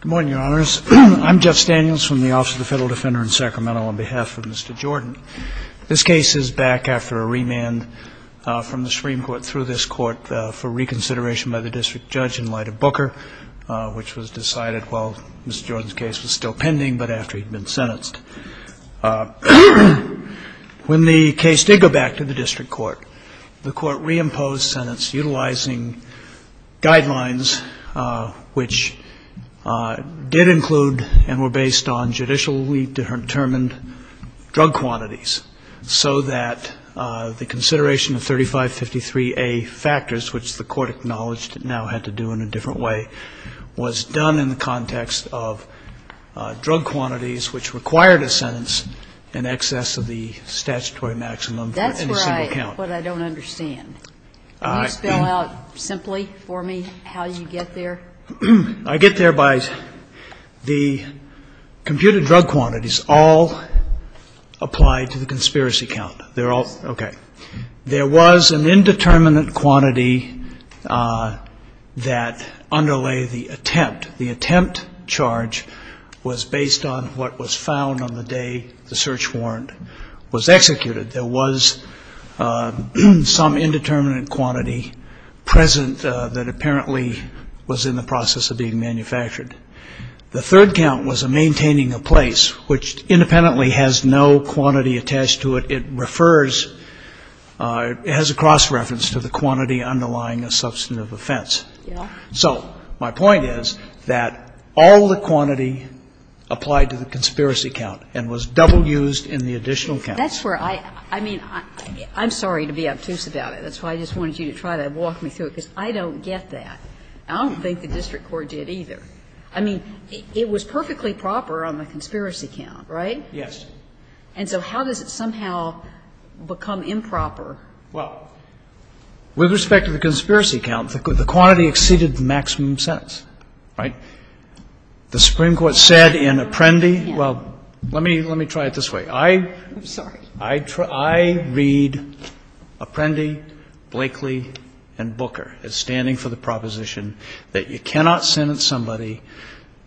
Good morning, Your Honors. I'm Jeff Daniels from the Office of the Federal Defender in Sacramento on behalf of Mr. Jordan. This case is back after a remand from the Supreme Court through this court for reconsideration by the district judge in light of Booker, which was decided while Mr. Jordan's case was still pending but after he'd been sentenced. When the case did go back to the district court, the court reimposed sentence utilizing guidelines which did include and were based on judicially determined drug quantities so that the consideration of 3553A factors, which the court acknowledged it now had to do in a different way, was done in the context of drug quantities which required a sentence in excess of the statutory maximum in a single count. That's what I don't understand. Can you spell out simply for me how you get there? I get there by the computed drug quantities all applied to the conspiracy count. There was an indeterminate quantity that underlay the attempt. The attempt charge was based on what was found on the day the search warrant was executed. There was some indeterminate quantity present that apparently was in the process of being manufactured. The third count was a maintaining of place, which independently has no quantity attached to it. It refers, has a cross reference to the quantity underlying a substantive offense. So my point is that all the quantity applied to the conspiracy count and was double used in the additional count. That's where I, I mean, I'm sorry to be obtuse about it. That's why I just wanted you to try to walk me through it, because I don't get that. I don't think the district court did either. I mean, it was perfectly proper on the conspiracy count, right? Yes. And so how does it somehow become improper? Well, with respect to the conspiracy count, the quantity exceeded the maximum sentence, right? The Supreme Court said in Apprendi, well, let me, let me try it this way. I'm sorry. I read Apprendi, Blakely, and Booker as standing for the proposition that you cannot sentence somebody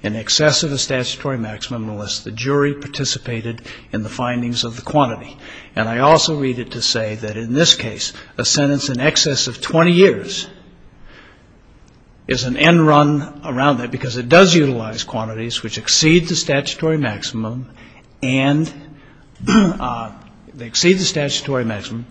in excess of a statutory maximum unless the jury participated in the findings of the quantity. And I also read it to say that in this case, a sentence in excess of 20 years is an end run around that, because it does utilize quantities which exceed the statutory maximum and they exceed the statutory maximum.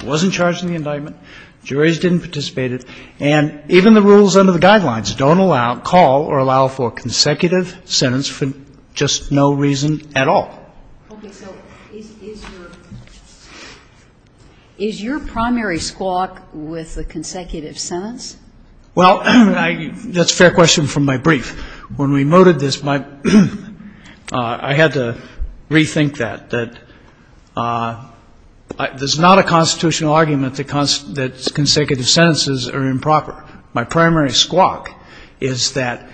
It wasn't charged in the indictment. Juries didn't participate in it. And even the rules under the guidelines don't allow, call or allow for consecutive sentence for just no reason at all. Okay. So is your primary squawk with the consecutive sentence? Well, that's a fair question from my brief. When we motored this, I had to rethink that, that there's not a constitutional argument that consecutive sentences are improper. My primary squawk is that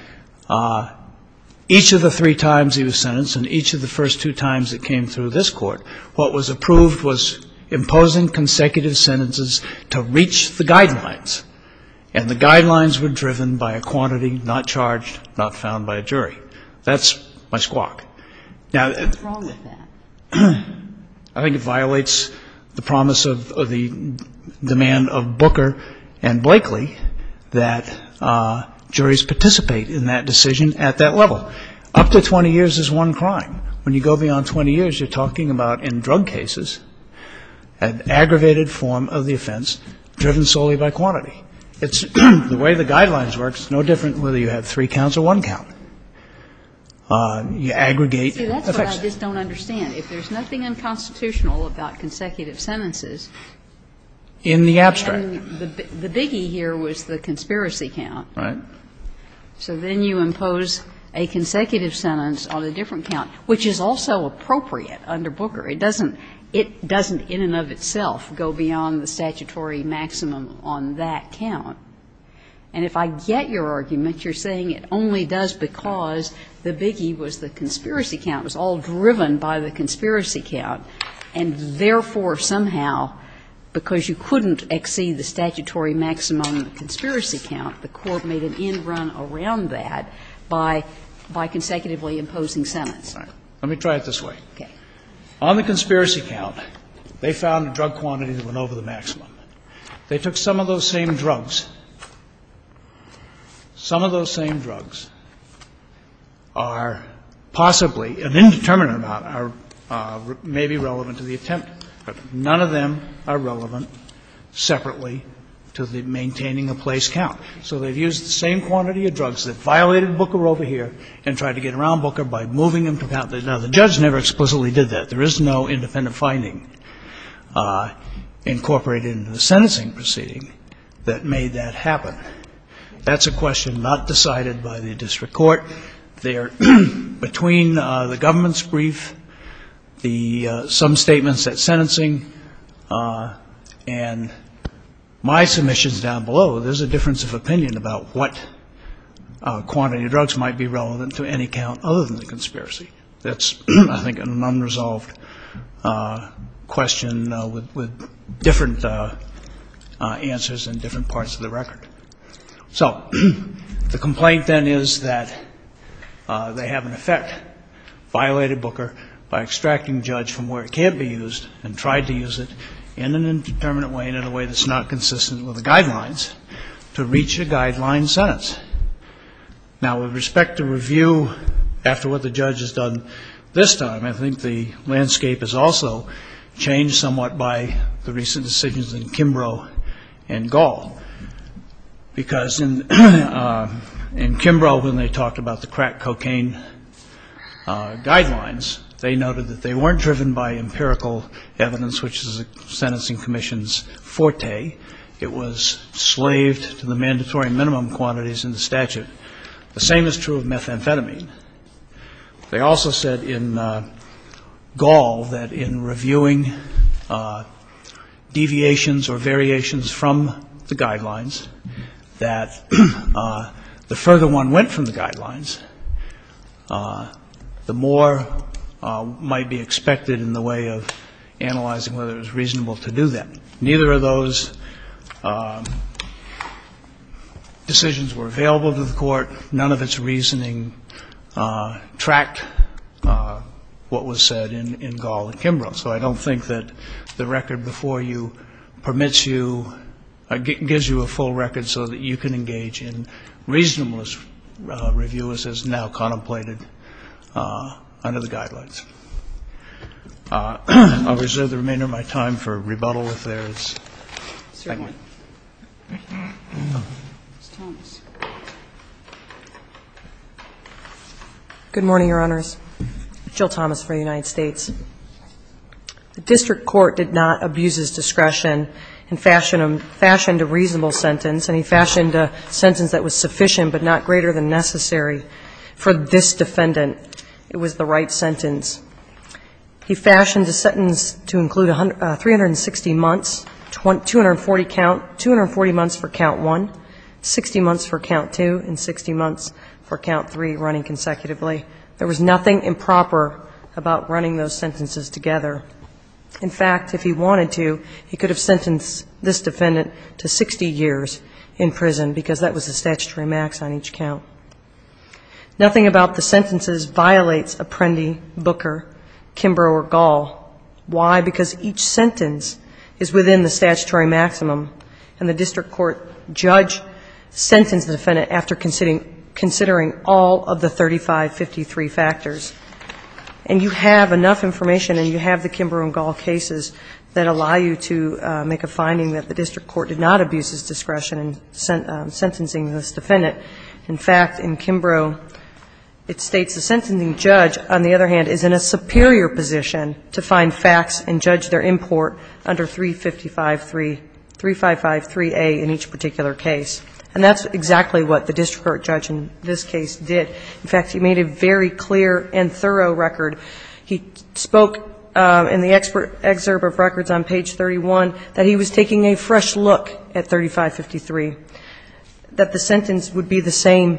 each of the three times he was sentenced and each of the first two times it came through this Court, what was approved was imposing consecutive sentences to reach the guidelines. And the guidelines were driven by a quantity not charged, not found by a jury. That's my squawk. What's wrong with that? I think it violates the promise of the demand of Booker and Blakely that juries participate in that decision at that level. Up to 20 years is one crime. When you go beyond 20 years, you're talking about, in drug cases, an aggravated form of the offense driven solely by quantity. The way the guidelines work, it's no different whether you have three counts or one count. You aggregate. You see, that's what I just don't understand. If there's nothing unconstitutional about consecutive sentences. In the abstract. The biggie here was the conspiracy count. Right. So then you impose a consecutive sentence on a different count, which is also appropriate under Booker. It doesn't in and of itself go beyond the statutory maximum on that count. And if I get your argument, you're saying it only does because the biggie was the conspiracy count was all driven by the conspiracy count, and therefore somehow because you couldn't exceed the statutory maximum of the conspiracy count, the Court made an end run around that by consecutively imposing sentence. All right. Let me try it this way. Okay. On the conspiracy count, they found a drug quantity that went over the maximum. They took some of those same drugs. Some of those same drugs are possibly an indeterminate amount, are maybe relevant to the attempt, but none of them are relevant separately to the maintaining a place count. So they've used the same quantity of drugs that violated Booker over here and tried to get around Booker by moving them to count. Now, the judge never explicitly did that. There is no independent finding incorporated into the sentencing proceeding that made that happen. That's a question not decided by the district court. Between the government's brief, some statements at sentencing, and my submissions down below, there's a difference of opinion about what quantity of drugs might be relevant to any count other than the conspiracy. That's, I think, an unresolved question with different answers in different parts of the record. So the complaint, then, is that they have, in effect, violated Booker by extracting the judge from where it can't be used and tried to use it in an indeterminate way and in a way that's not consistent with the guidelines to reach a guideline sentence. Now, with respect to review after what the judge has done this time, I think the landscape has also changed somewhat by the recent decisions in Kimbrough and Gall. Because in Kimbrough, when they talked about the crack cocaine guidelines, they noted that they weren't driven by empirical evidence, which is a sentencing commission's forte. It was slaved to the mandatory minimum quantities in the statute. The same is true of methamphetamine. They also said in Gall that in reviewing deviations or variations from the guidelines that the further one went from the guidelines, the more might be expected in the way of analyzing whether it was reasonable to do that. Neither of those decisions were available to the court. None of its reasoning tracked what was said in Gall and Kimbrough. So I don't think that the record before you permits you or gives you a full record so that you can engage in reasonableness review, as is now contemplated under the guidelines. I'll reserve the remainder of my time for rebuttal if there's anyone. Ms. Thomas. Good morning, Your Honors. Jill Thomas for the United States. The district court did not abuse its discretion and fashioned a reasonable sentence, and he fashioned a sentence that was sufficient but not greater than necessary for this defendant. It was the right sentence. He fashioned a sentence to include 360 months, 240 count, 240 months for count one, 60 months for count two, and 60 months for count three running consecutively. There was nothing improper about running those sentences together. In fact, if he wanted to, he could have sentenced this defendant to 60 years in prison because that was the statutory max on each count. Nothing about the sentences violates Apprendi, Booker, Kimbrough, or Gall. Why? Because each sentence is within the statutory maximum, and the district court judge sentenced the defendant after considering all of the 3553 factors. And you have enough information, and you have the Kimbrough and Gall cases that allow you to make a finding that the district court did not abuse its discretion in sentencing this defendant. In fact, in Kimbrough, it states the sentencing judge, on the other hand, is in a superior position to find facts and judge their import under 3553, 3553A in each particular case. And that's exactly what the district court judge in this case did. In fact, he made a very clear and thorough record. He spoke in the excerpt of records on page 31 that he was taking a fresh look at 3553, that the sentence would be the same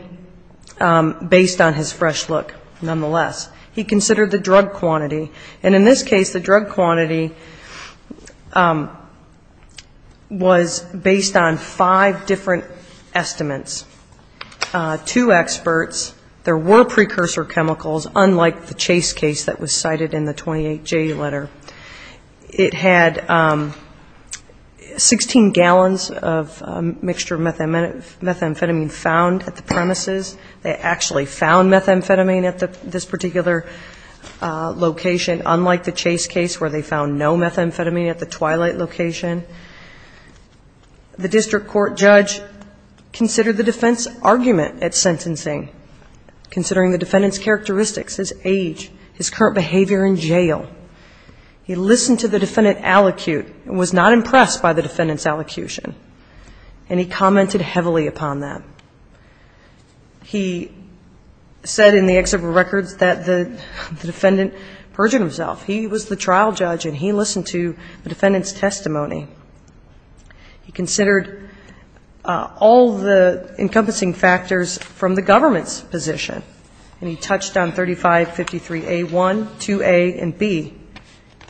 based on his fresh look, nonetheless. He considered the drug quantity. And in this case, the drug quantity was based on five different estimates. Two experts. There were precursor chemicals, unlike the Chase case that was cited in the 28J letter. It had 16 gallons of mixture methamphetamine found at the premises. They actually found methamphetamine at this particular location, unlike the Chase case where they found no methamphetamine at the Twilight location. The district court judge considered the defense argument at sentencing, considering the defendant's characteristics, his age, his current behavior in jail. He listened to the defendant allocute and was not impressed by the defendant's allocution. And he commented heavily upon that. He said in the excerpt of records that the defendant perjured himself. He was the trial judge, and he listened to the defendant's testimony. He considered all the encompassing factors from the government's position. And he touched on 3553A1, 2A, and B,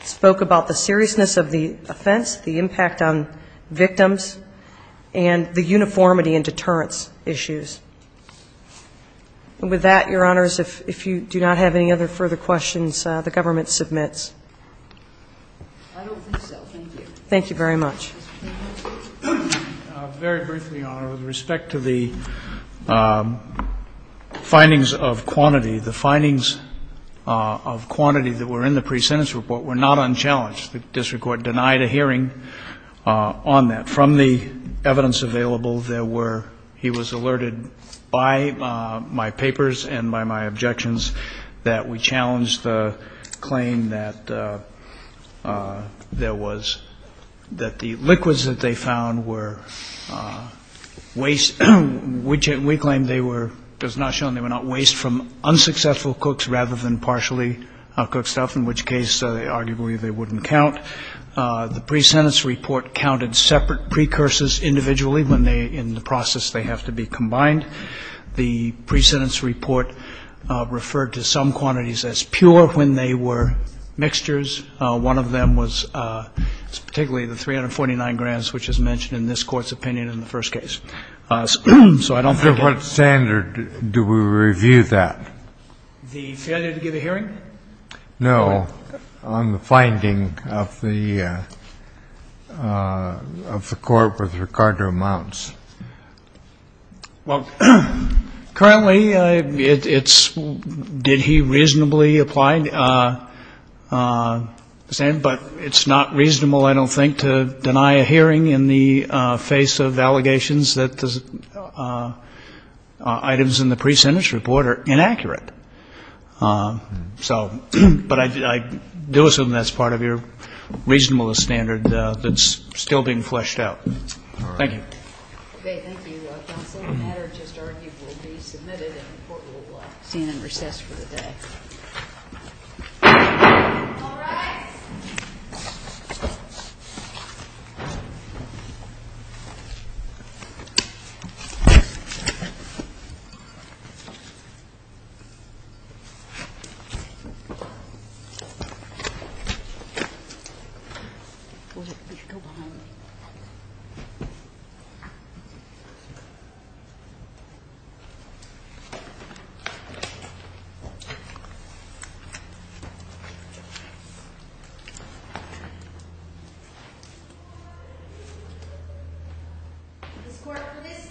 spoke about the seriousness of the offense, the impact on victims, and the uniformity and deterrence issues. And with that, Your Honors, if you do not have any other further questions, the government submits. I don't think so. Thank you. Thank you very much. Very briefly, Your Honor, with respect to the findings of quantity, the findings of quantity that were in the pre-sentence report were not unchallenged. The district court denied a hearing on that. From the evidence available, there were he was alerted by my papers and by my objections that we challenged the claim that there was, that the liquids that they found were waste, which we claim they were, it was not shown they were not waste from unsuccessful cooks rather than partially cooked stuff, in which case, arguably, they wouldn't count. The pre-sentence report counted separate precursors individually when they, in the process, they have to be combined. The pre-sentence report referred to some quantities as pure when they were mixtures. One of them was particularly the 349 grams, which is mentioned in this Court's opinion in the first case. So I don't think that's true. So what standard do we review that? The failure to give a hearing? No, on the finding of the Court with regard to amounts. Well, currently, it's did he reasonably apply? But it's not reasonable, I don't think, to deny a hearing in the face of allegations that the items in the pre-sentence report are inaccurate. So, but I do assume that's part of your reasonableness standard that's still being fleshed out. Thank you. Okay, thank you. Counsel, the matter just argued will be submitted and the Court will stand in recess for the day. All rise. Go behind me. Thank you. This Court, for this session, stands adjourned.